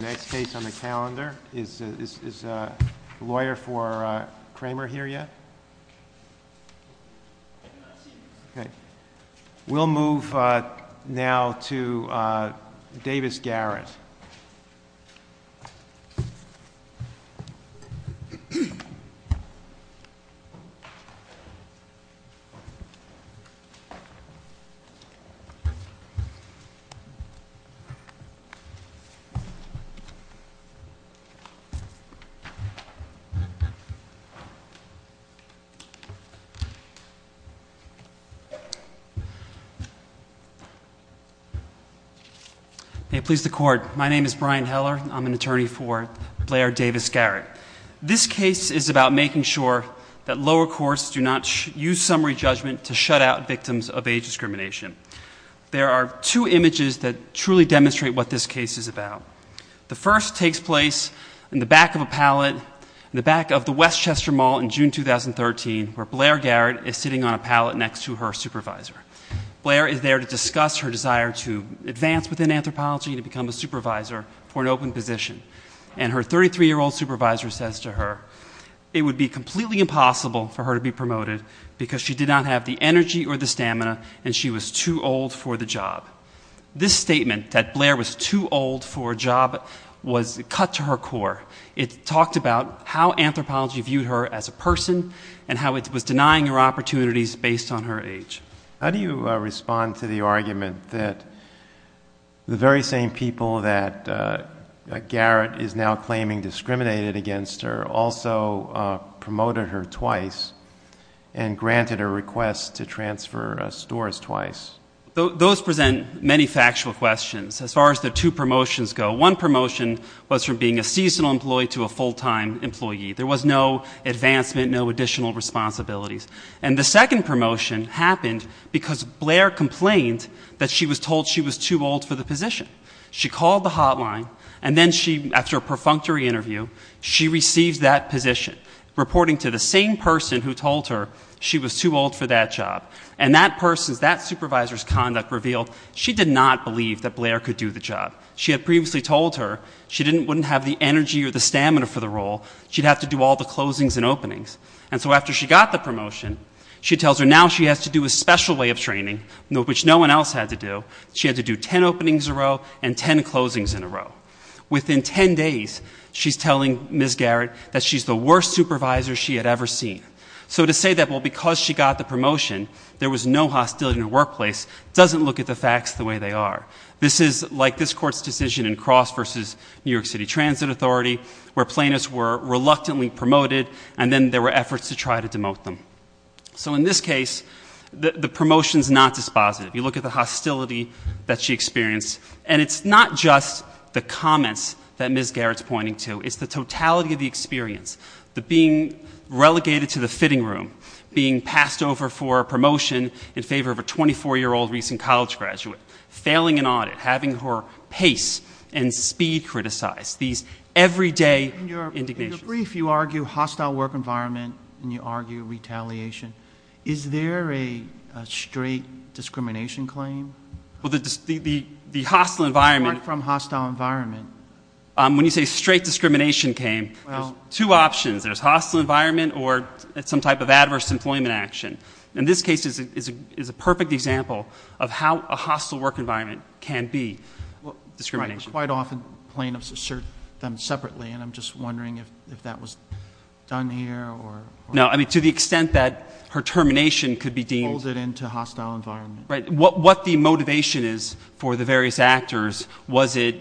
Next case on the calendar is a lawyer for Kramer here yet? We'll move now to Davis-Garrett. May it please the Court, my name is Brian Heller, I'm an attorney for Blair Davis-Garrett. This case is about making sure that lower courts do not use summary judgment to shut out victims of age discrimination. There are two images that truly demonstrate what this case is about. The first takes place in the back of a pallet in the back of the Westchester Mall in June 2013, where Blair Garrett is sitting on a pallet next to her supervisor. Blair is there to discuss her desire to advance within anthropology, to become a supervisor for an open position. And her 33-year-old supervisor says to her, it would be completely impossible for her to be promoted because she did not have the energy or the stamina and she was too old for the job. This statement, that Blair was too old for a job, was cut to her core. It talked about how anthropology viewed her as a person and how it was denying her opportunities based on her age. How do you respond to the argument that the very same people that Garrett is now claiming discriminated against her also promoted her twice and granted her requests to transfer stores twice? Those present many factual questions as far as the two promotions go. One promotion was from being a seasonal employee to a full-time employee. There was no advancement, no additional responsibilities. And the second promotion happened because Blair complained that she was told she was too old for the position. She called the hotline and then she, after a perfunctory interview, she received that position, reporting to the same person who told her she was too old for that job. And that person's, that supervisor's conduct revealed she did not believe that Blair could do the job. She had previously told her she wouldn't have the energy or the stamina for the role. She'd have to do all the closings and openings. And so after she got the promotion, she tells her now she has to do a special way of training, which no one else had to do. She had to do ten openings in a row and ten closings in a row. Within ten days, she's telling Ms. Garrett that she's the worst supervisor she had ever seen. So to say that, well, because she got the promotion, there was no hostility in the workplace, doesn't look at the facts the way they are. This is like this court's decision in Cross versus New York City Transit Authority, where plaintiffs were reluctantly promoted and then there were efforts to try to demote them. So in this case, the promotion's not dispositive. You look at the hostility that she experienced, and it's not just the comments that Ms. Garrett's pointing to. It's the totality of the experience, the being relegated to the fitting room, being passed over for a promotion in favor of a 24-year-old recent college graduate. Failing an audit, having her pace and speed criticized. These everyday indignations. In the brief, you argue hostile work environment and you argue retaliation. Is there a straight discrimination claim? Well, the hostile environment- Apart from hostile environment. When you say straight discrimination came, there's two options. There's hostile environment or some type of adverse employment action. In this case, it's a perfect example of how a hostile work environment can be discrimination. Quite often, plaintiffs assert them separately, and I'm just wondering if that was done here or- No, I mean, to the extent that her termination could be deemed- Folded into hostile environment. Right, what the motivation is for the various actors was it,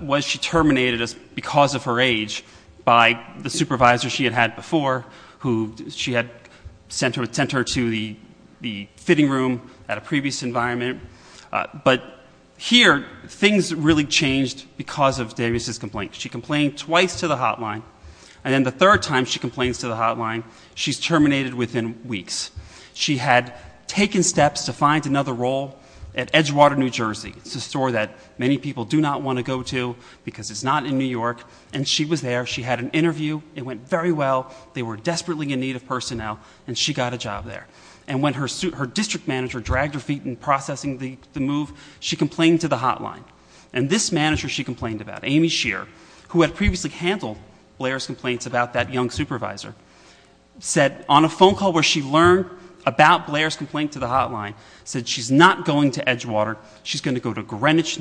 was she terminated because of her age by the supervisor she had had before, who she had sent her to the fitting room at a previous environment. But here, things really changed because of Davis's complaint. She complained twice to the hotline, and then the third time she complains to the hotline, she's terminated within weeks. She had taken steps to find another role at Edgewater, New Jersey. It's a store that many people do not want to go to because it's not in New York. And she was there, she had an interview, it went very well, they were desperately in need of personnel, and she got a job there. And when her district manager dragged her feet in processing the move, she complained to the hotline. And this manager she complained about, Amy Shear, who had previously handled Blair's complaints about that young supervisor, said on a phone call where she learned about Blair's complaint to the hotline, said she's not going to Edgewater. She's going to go to Greenwich,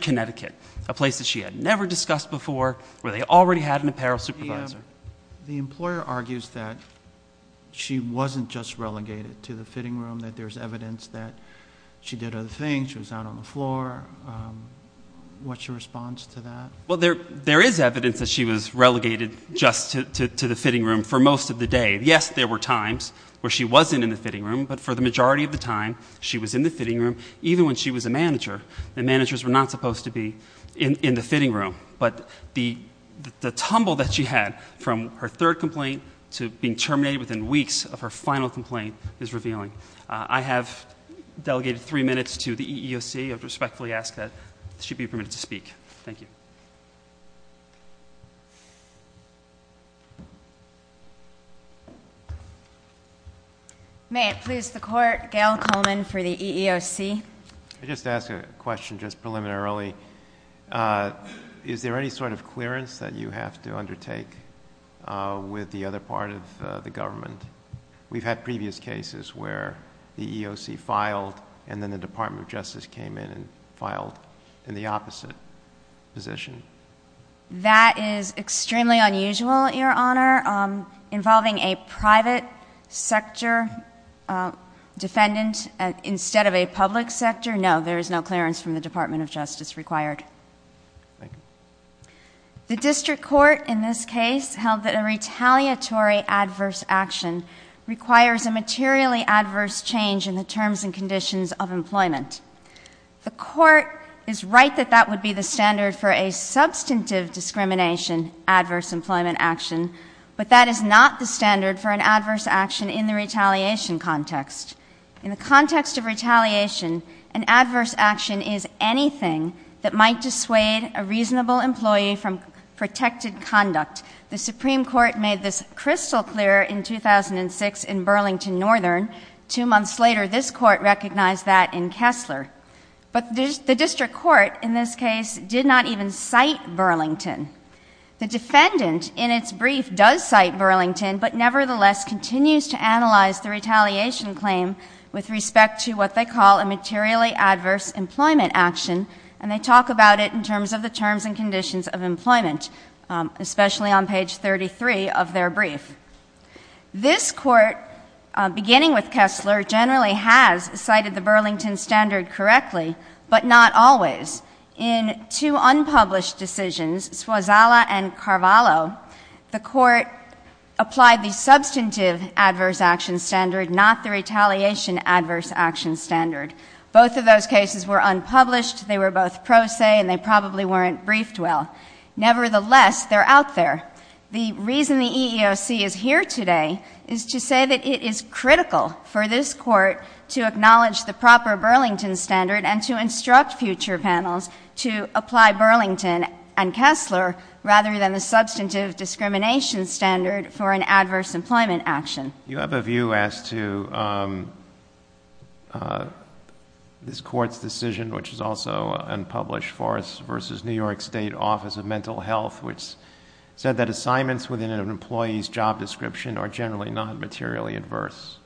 Connecticut, a place that she had never discussed before, where they already had an apparel supervisor. The employer argues that she wasn't just relegated to the fitting room, that there's evidence that she did other things, she was out on the floor. What's your response to that? Well, there is evidence that she was relegated just to the fitting room for most of the day. Yes, there were times where she wasn't in the fitting room, but for the majority of the time, she was in the fitting room, even when she was a manager, and managers were not supposed to be in the fitting room. But the tumble that she had from her third complaint to being terminated within weeks of her final complaint is revealing. I have delegated three minutes to the EEOC, I respectfully ask that she be permitted to speak. Thank you. May it please the court, Gail Coleman for the EEOC. I just ask a question just preliminarily. Is there any sort of clearance that you have to undertake with the other part of the government? We've had previous cases where the EEOC filed, and then the Department of Justice came in and filed in the opposite position. That is extremely unusual, your honor. Involving a private sector defendant instead of a public sector? No, there is no clearance from the Department of Justice required. The district court in this case held that a retaliatory adverse action requires a materially adverse change in the terms and conditions of employment. The court is right that that would be the standard for a substantive discrimination, adverse employment action. But that is not the standard for an adverse action in the retaliation context. In the context of retaliation, an adverse action is anything that might dissuade a reasonable employee from protected conduct. The Supreme Court made this crystal clear in 2006 in Burlington Northern. Two months later, this court recognized that in Kessler. But the district court, in this case, did not even cite Burlington. The defendant, in its brief, does cite Burlington, but nevertheless, continues to analyze the retaliation claim with respect to what they call a materially adverse employment action. And they talk about it in terms of the terms and conditions of employment, especially on page 33 of their brief. This court, beginning with Kessler, generally has cited the Burlington standard correctly, but not always. In two unpublished decisions, Suazala and Carvalho, the court applied the substantive adverse action standard, not the retaliation adverse action standard. Both of those cases were unpublished, they were both pro se, and they probably weren't briefed well. Nevertheless, they're out there. The reason the EEOC is here today is to say that it is critical for this court to acknowledge the proper Burlington standard and to instruct future panels to apply Burlington and Kessler rather than the substantive discrimination standard for an adverse employment action. You have a view as to this court's decision, which is also unpublished, Forest versus New York State Office of Mental Health, which said that assignments within an employee's job description are generally not materially adverse.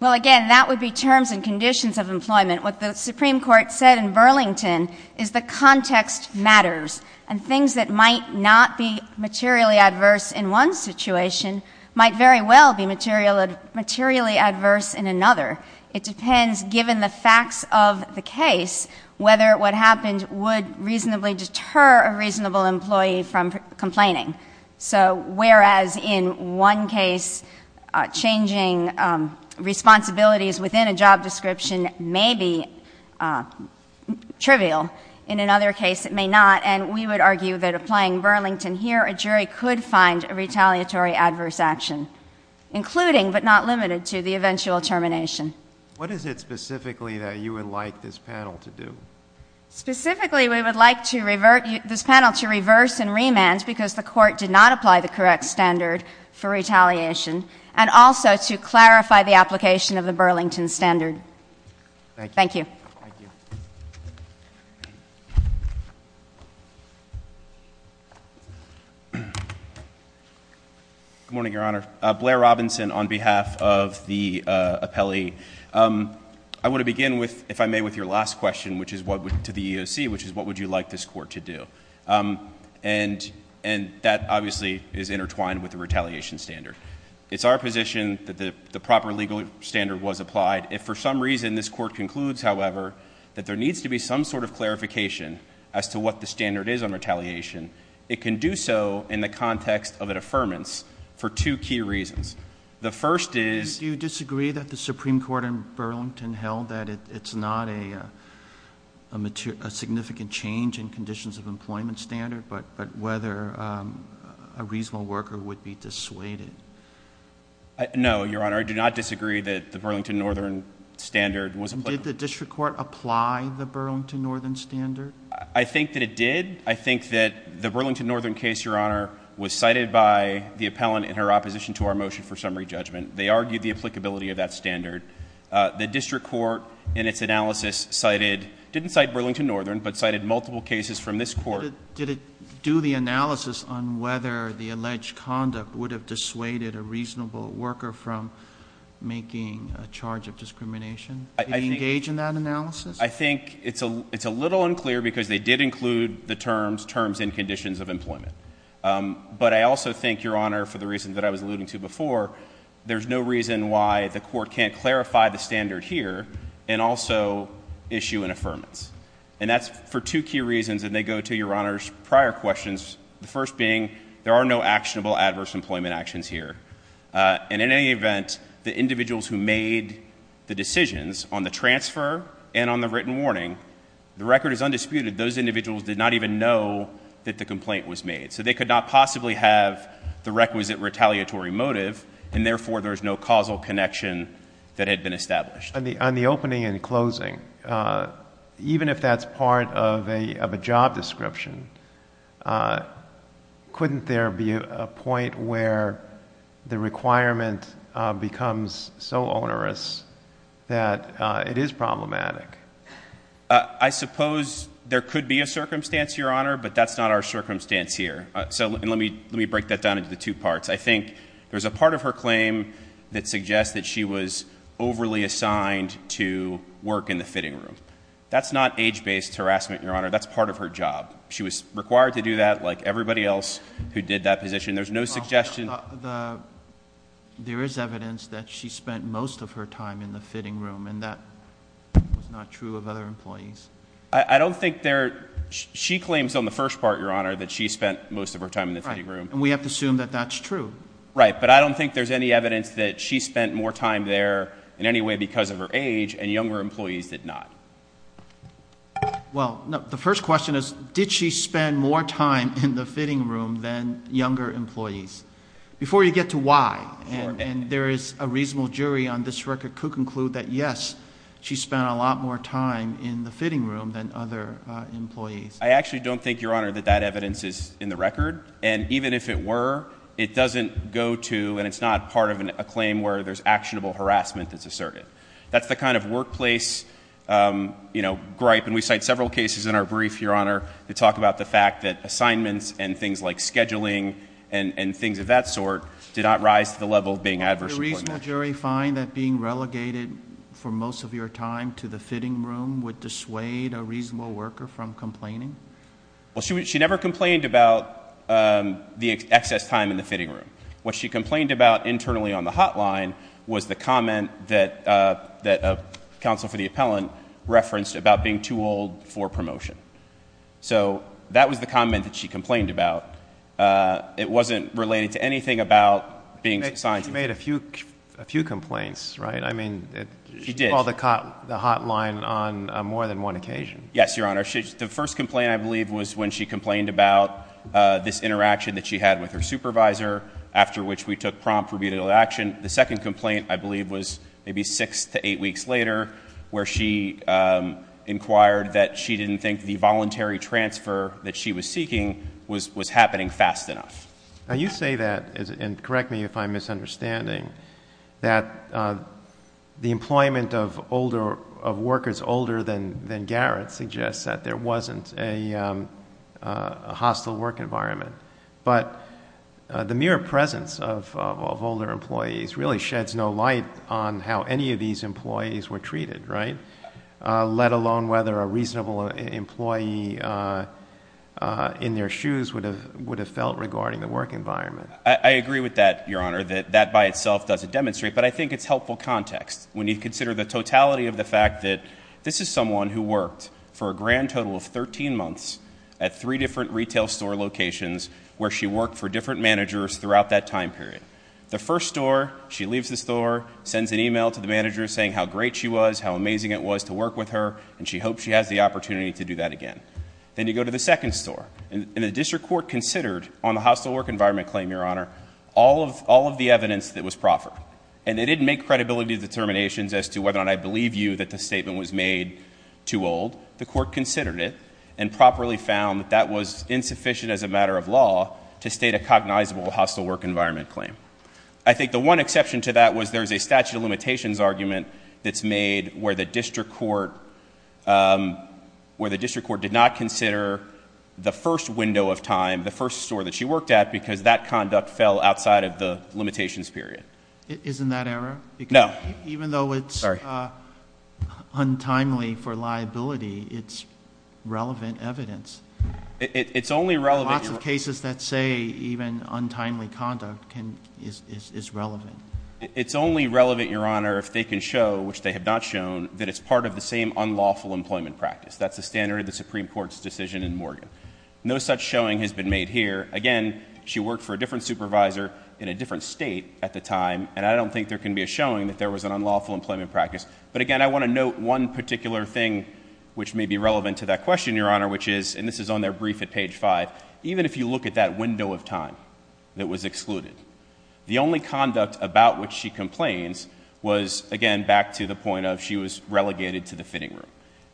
Well again, that would be terms and conditions of employment. What the Supreme Court said in Burlington is the context matters. And things that might not be materially adverse in one situation might very well be materially adverse in another. It depends, given the facts of the case, whether what happened would reasonably deter a reasonable employee from complaining. So whereas in one case, changing responsibilities within a job description may be trivial, in another case it may not. And we would argue that applying Burlington here, a jury could find a retaliatory adverse action, including but not limited to the eventual termination. What is it specifically that you would like this panel to do? Specifically, we would like this panel to reverse and remand because the court did not apply the correct standard for retaliation. And also to clarify the application of the Burlington standard. Thank you. Thank you. Good morning, Your Honor. Blair Robinson on behalf of the appellee. I want to begin with, if I may, with your last question, which is to the EOC, which is what would you like this court to do? And that obviously is intertwined with the retaliation standard. It's our position that the proper legal standard was applied. If for some reason this court concludes, however, that there needs to be some sort of clarification as to what the standard is on retaliation, it can do so in the context of a deferments for two key reasons. The first is- Do you disagree that the Supreme Court in Burlington held that it's not a significant change in conditions of employment standard? But whether a reasonable worker would be dissuaded? No, Your Honor, I do not disagree that the Burlington Northern standard was applied. Did the district court apply the Burlington Northern standard? I think that it did. I think that the Burlington Northern case, Your Honor, was cited by the appellant in her opposition to our motion for summary judgment. They argued the applicability of that standard. The district court in its analysis cited, didn't cite Burlington Northern, but cited multiple cases from this court. Did it do the analysis on whether the alleged conduct would have dissuaded a reasonable worker from making a charge of discrimination? Did it engage in that analysis? I think it's a little unclear because they did include the terms, terms and conditions of employment. But I also think, Your Honor, for the reasons that I was alluding to before, there's no reason why the court can't clarify the standard here and also issue an affirmance. And that's for two key reasons, and they go to Your Honor's prior questions, the first being, there are no actionable adverse employment actions here. And in any event, the individuals who made the decisions on the transfer and on the written warning, the record is undisputed, those individuals did not even know that the complaint was made. So they could not possibly have the requisite retaliatory motive, and therefore there's no causal connection that had been established. On the opening and closing, even if that's part of a job description, couldn't there be a point where the requirement becomes so onerous that it is problematic? I suppose there could be a circumstance, Your Honor, but that's not our circumstance here. So let me break that down into the two parts. I think there's a part of her claim that suggests that she was overly assigned to work in the fitting room. That's not age-based harassment, Your Honor, that's part of her job. She was required to do that, like everybody else who did that position. There's no suggestion- There is evidence that she spent most of her time in the fitting room, and that was not true of other employees. I don't think there, she claims on the first part, Your Honor, that she spent most of her time in the fitting room. And we have to assume that that's true. Right, but I don't think there's any evidence that she spent more time there in any way because of her age, and younger employees did not. Well, the first question is, did she spend more time in the fitting room than younger employees? Before you get to why, and there is a reasonable jury on this record could conclude that yes, she spent a lot more time in the fitting room than other employees. I actually don't think, Your Honor, that that evidence is in the record. And even if it were, it doesn't go to, and it's not part of a claim where there's actionable harassment that's asserted. That's the kind of workplace gripe, and we cite several cases in our brief, Your Honor, that talk about the fact that assignments and things like scheduling and things of that sort did not rise to the level of being adverse employment. Did the jury find that being relegated for most of your time to the fitting room would dissuade a reasonable worker from complaining? Well, she never complained about the excess time in the fitting room. What she complained about internally on the hotline was the comment that a counsel for the appellant referenced about being too old for promotion. So that was the comment that she complained about. She made a few complaints, right? I mean, she called the hotline on more than one occasion. Yes, Your Honor. The first complaint, I believe, was when she complained about this interaction that she had with her supervisor, after which we took prompt rebuttal action. The second complaint, I believe, was maybe six to eight weeks later, where she inquired that she didn't think the voluntary transfer that she was seeking was happening fast enough. Now you say that, and correct me if I'm misunderstanding, that the employment of workers older than Garrett suggests that there wasn't a hostile work environment. But the mere presence of older employees really sheds no light on how any of these employees were treated, right? Let alone whether a reasonable employee in their shoes would have felt regarding the work environment. I agree with that, Your Honor, that that by itself doesn't demonstrate, but I think it's helpful context. When you consider the totality of the fact that this is someone who worked for a grand total of 13 months at three different retail store locations where she worked for different managers throughout that time period. The first store, she leaves the store, sends an email to the manager saying how great she was, how amazing it was to work with her, and she hopes she has the opportunity to do that again. Then you go to the second store, and the district court considered on the hostile work environment claim, Your Honor, all of the evidence that was proffered. And they didn't make credibility determinations as to whether or not I believe you that the statement was made too old. The court considered it and properly found that that was insufficient as a matter of law to state a cognizable hostile work environment claim. I think the one exception to that was there's a statute of limitations argument that's made where the district court did not consider the first window of time, the first store that she worked at, because that conduct fell outside of the limitations period. Isn't that error? No. Even though it's untimely for liability, it's relevant evidence. It's only relevant- Lots of cases that say even untimely conduct is relevant. It's only relevant, Your Honor, if they can show, which they have not shown, that it's part of the same unlawful employment practice. That's the standard of the Supreme Court's decision in Morgan. No such showing has been made here. Again, she worked for a different supervisor in a different state at the time, and I don't think there can be a showing that there was an unlawful employment practice. But again, I want to note one particular thing which may be relevant to that question, Your Honor, which is, and this is on their brief at page five. Even if you look at that window of time that was excluded. The only conduct about which she complains was, again, back to the point of she was relegated to the fitting room.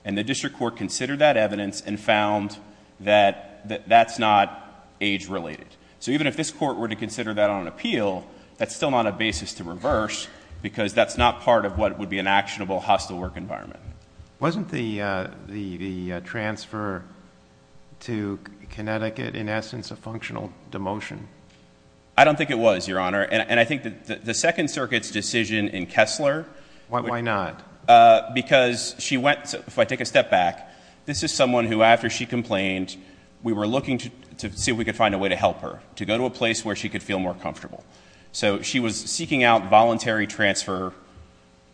And the district court considered that evidence and found that that's not age related. So even if this court were to consider that on appeal, that's still not a basis to reverse, because that's not part of what would be an actionable hostile work environment. Wasn't the transfer to Connecticut, in essence, a functional demotion? I don't think it was, Your Honor, and I think that the Second Circuit's decision in Kessler- Why not? Because she went, if I take a step back, this is someone who after she complained, we were looking to see if we could find a way to help her, to go to a place where she could feel more comfortable. So she was seeking out voluntary transfer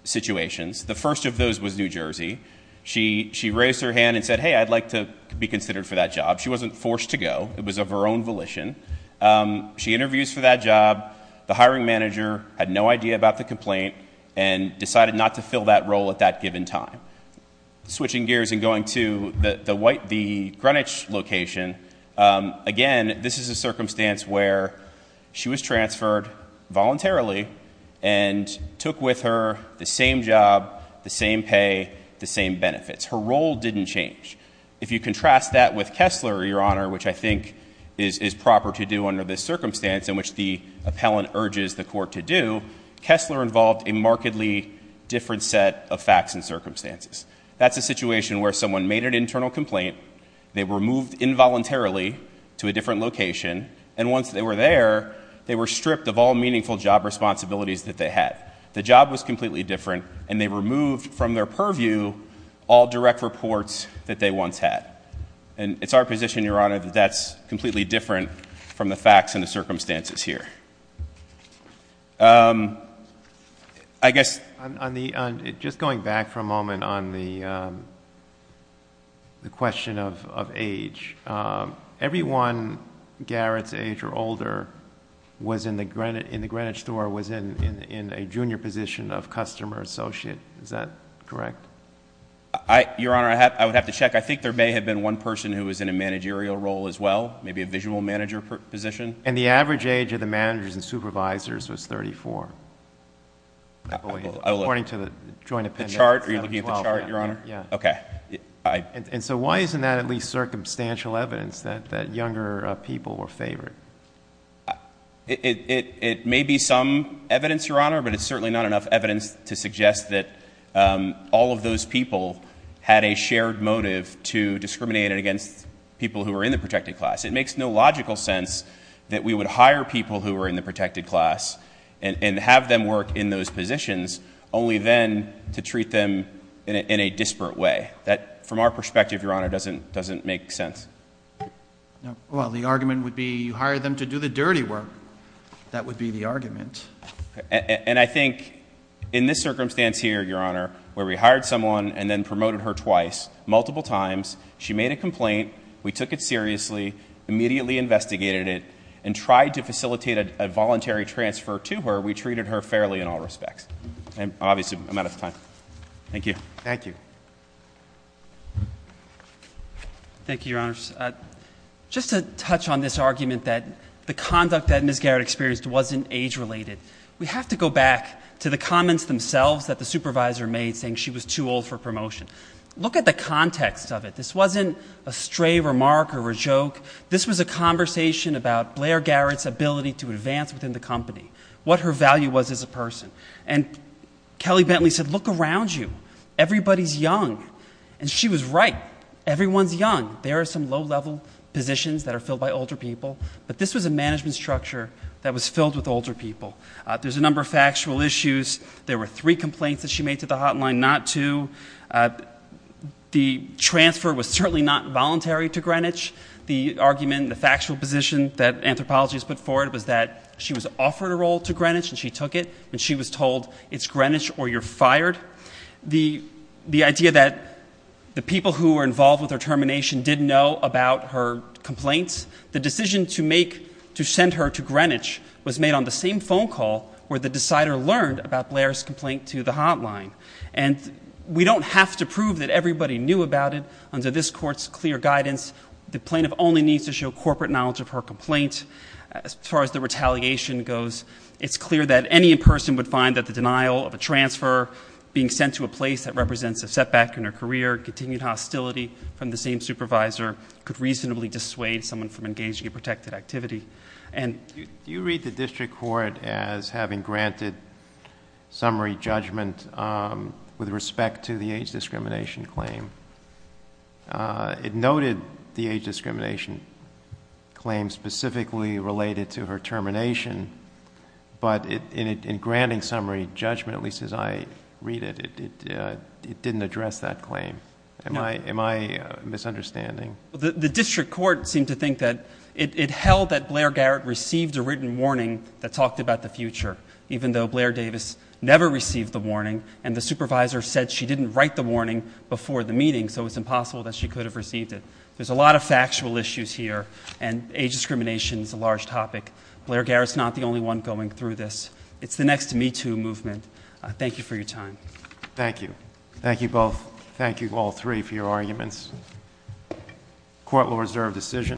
situations. The first of those was New Jersey. She raised her hand and said, hey, I'd like to be considered for that job. She wasn't forced to go, it was of her own volition. She interviews for that job. The hiring manager had no idea about the complaint and decided not to fill that role at that given time. Switching gears and going to the Greenwich location, again, this is a circumstance where she was transferred voluntarily and took with her the same job, the same pay, the same benefits. Her role didn't change. If you contrast that with Kessler, Your Honor, which I think is proper to do under this circumstance, in which the appellant urges the court to do, Kessler involved a markedly different set of facts and circumstances. That's a situation where someone made an internal complaint, they were moved involuntarily to a different location, and once they were there, they were stripped of all meaningful job responsibilities that they had. The job was completely different, and they removed from their purview all direct reports that they once had. And it's our position, Your Honor, that that's completely different from the facts and the circumstances here. I guess- On the, just going back for a moment on the question of age. Everyone Garrett's age or older was in the Greenwich store, was in a junior position of customer associate, is that correct? I, Your Honor, I would have to check. I think there may have been one person who was in a managerial role as well, maybe a visual manager position. And the average age of the managers and supervisors was 34, I believe, according to the joint appendix. The chart, are you looking at the chart, Your Honor? Yeah. Okay. And so why isn't that at least circumstantial evidence that younger people were favored? It may be some evidence, Your Honor, but it's certainly not enough evidence to suggest that all of those people had a shared motive to discriminate against people who were in the protected class. It makes no logical sense that we would hire people who were in the protected class and have them work in those positions, only then to treat them in a disparate way. That, from our perspective, Your Honor, doesn't make sense. Well, the argument would be you hired them to do the dirty work. That would be the argument. And I think in this circumstance here, Your Honor, where we hired someone and then promoted her twice, multiple times. She made a complaint, we took it seriously, immediately investigated it, and tried to facilitate a voluntary transfer to her, we treated her fairly in all respects. And obviously, I'm out of time. Thank you. Thank you. Thank you, Your Honors. Just to touch on this argument that the conduct that Ms. Garrett experienced wasn't age related. We have to go back to the comments themselves that the supervisor made saying she was too old for promotion. Look at the context of it. This wasn't a stray remark or a joke. This was a conversation about Blair Garrett's ability to advance within the company, what her value was as a person. And Kelly Bentley said, look around you. Everybody's young. And she was right. Everyone's young. There are some low level positions that are filled by older people. But this was a management structure that was filled with older people. There's a number of factual issues. There were three complaints that she made to the hotline, not two. The transfer was certainly not voluntary to Greenwich. The argument, the factual position that anthropology has put forward was that she was offered a role to Greenwich and she took it. And she was told, it's Greenwich or you're fired. The idea that the people who were involved with her termination didn't know about her complaints. The decision to send her to Greenwich was made on the same phone call where the decider learned about Blair's complaint to the hotline. And we don't have to prove that everybody knew about it. Under this court's clear guidance, the plaintiff only needs to show corporate knowledge of her complaint. As far as the retaliation goes, it's clear that any person would find that the denial of a transfer being sent to a place that represents a setback in her career, continued hostility from the same supervisor, could reasonably dissuade someone from engaging in protected activity. And- Do you read the district court as having granted summary judgment with respect to the age discrimination claim? It noted the age discrimination claim specifically related to her termination. But in granting summary judgment, at least as I read it, it didn't address that claim. Am I misunderstanding? The district court seemed to think that it held that Blair Garrett received a written warning that talked about the future. Even though Blair Davis never received the warning, and the supervisor said she didn't write the warning before the meeting, so it's impossible that she could have received it. There's a lot of factual issues here, and age discrimination is a large topic. Blair Garrett's not the only one going through this. It's the next Me Too movement. Thank you for your time. Thank you. Thank you both. Thank you all three for your arguments. Court will reserve decision.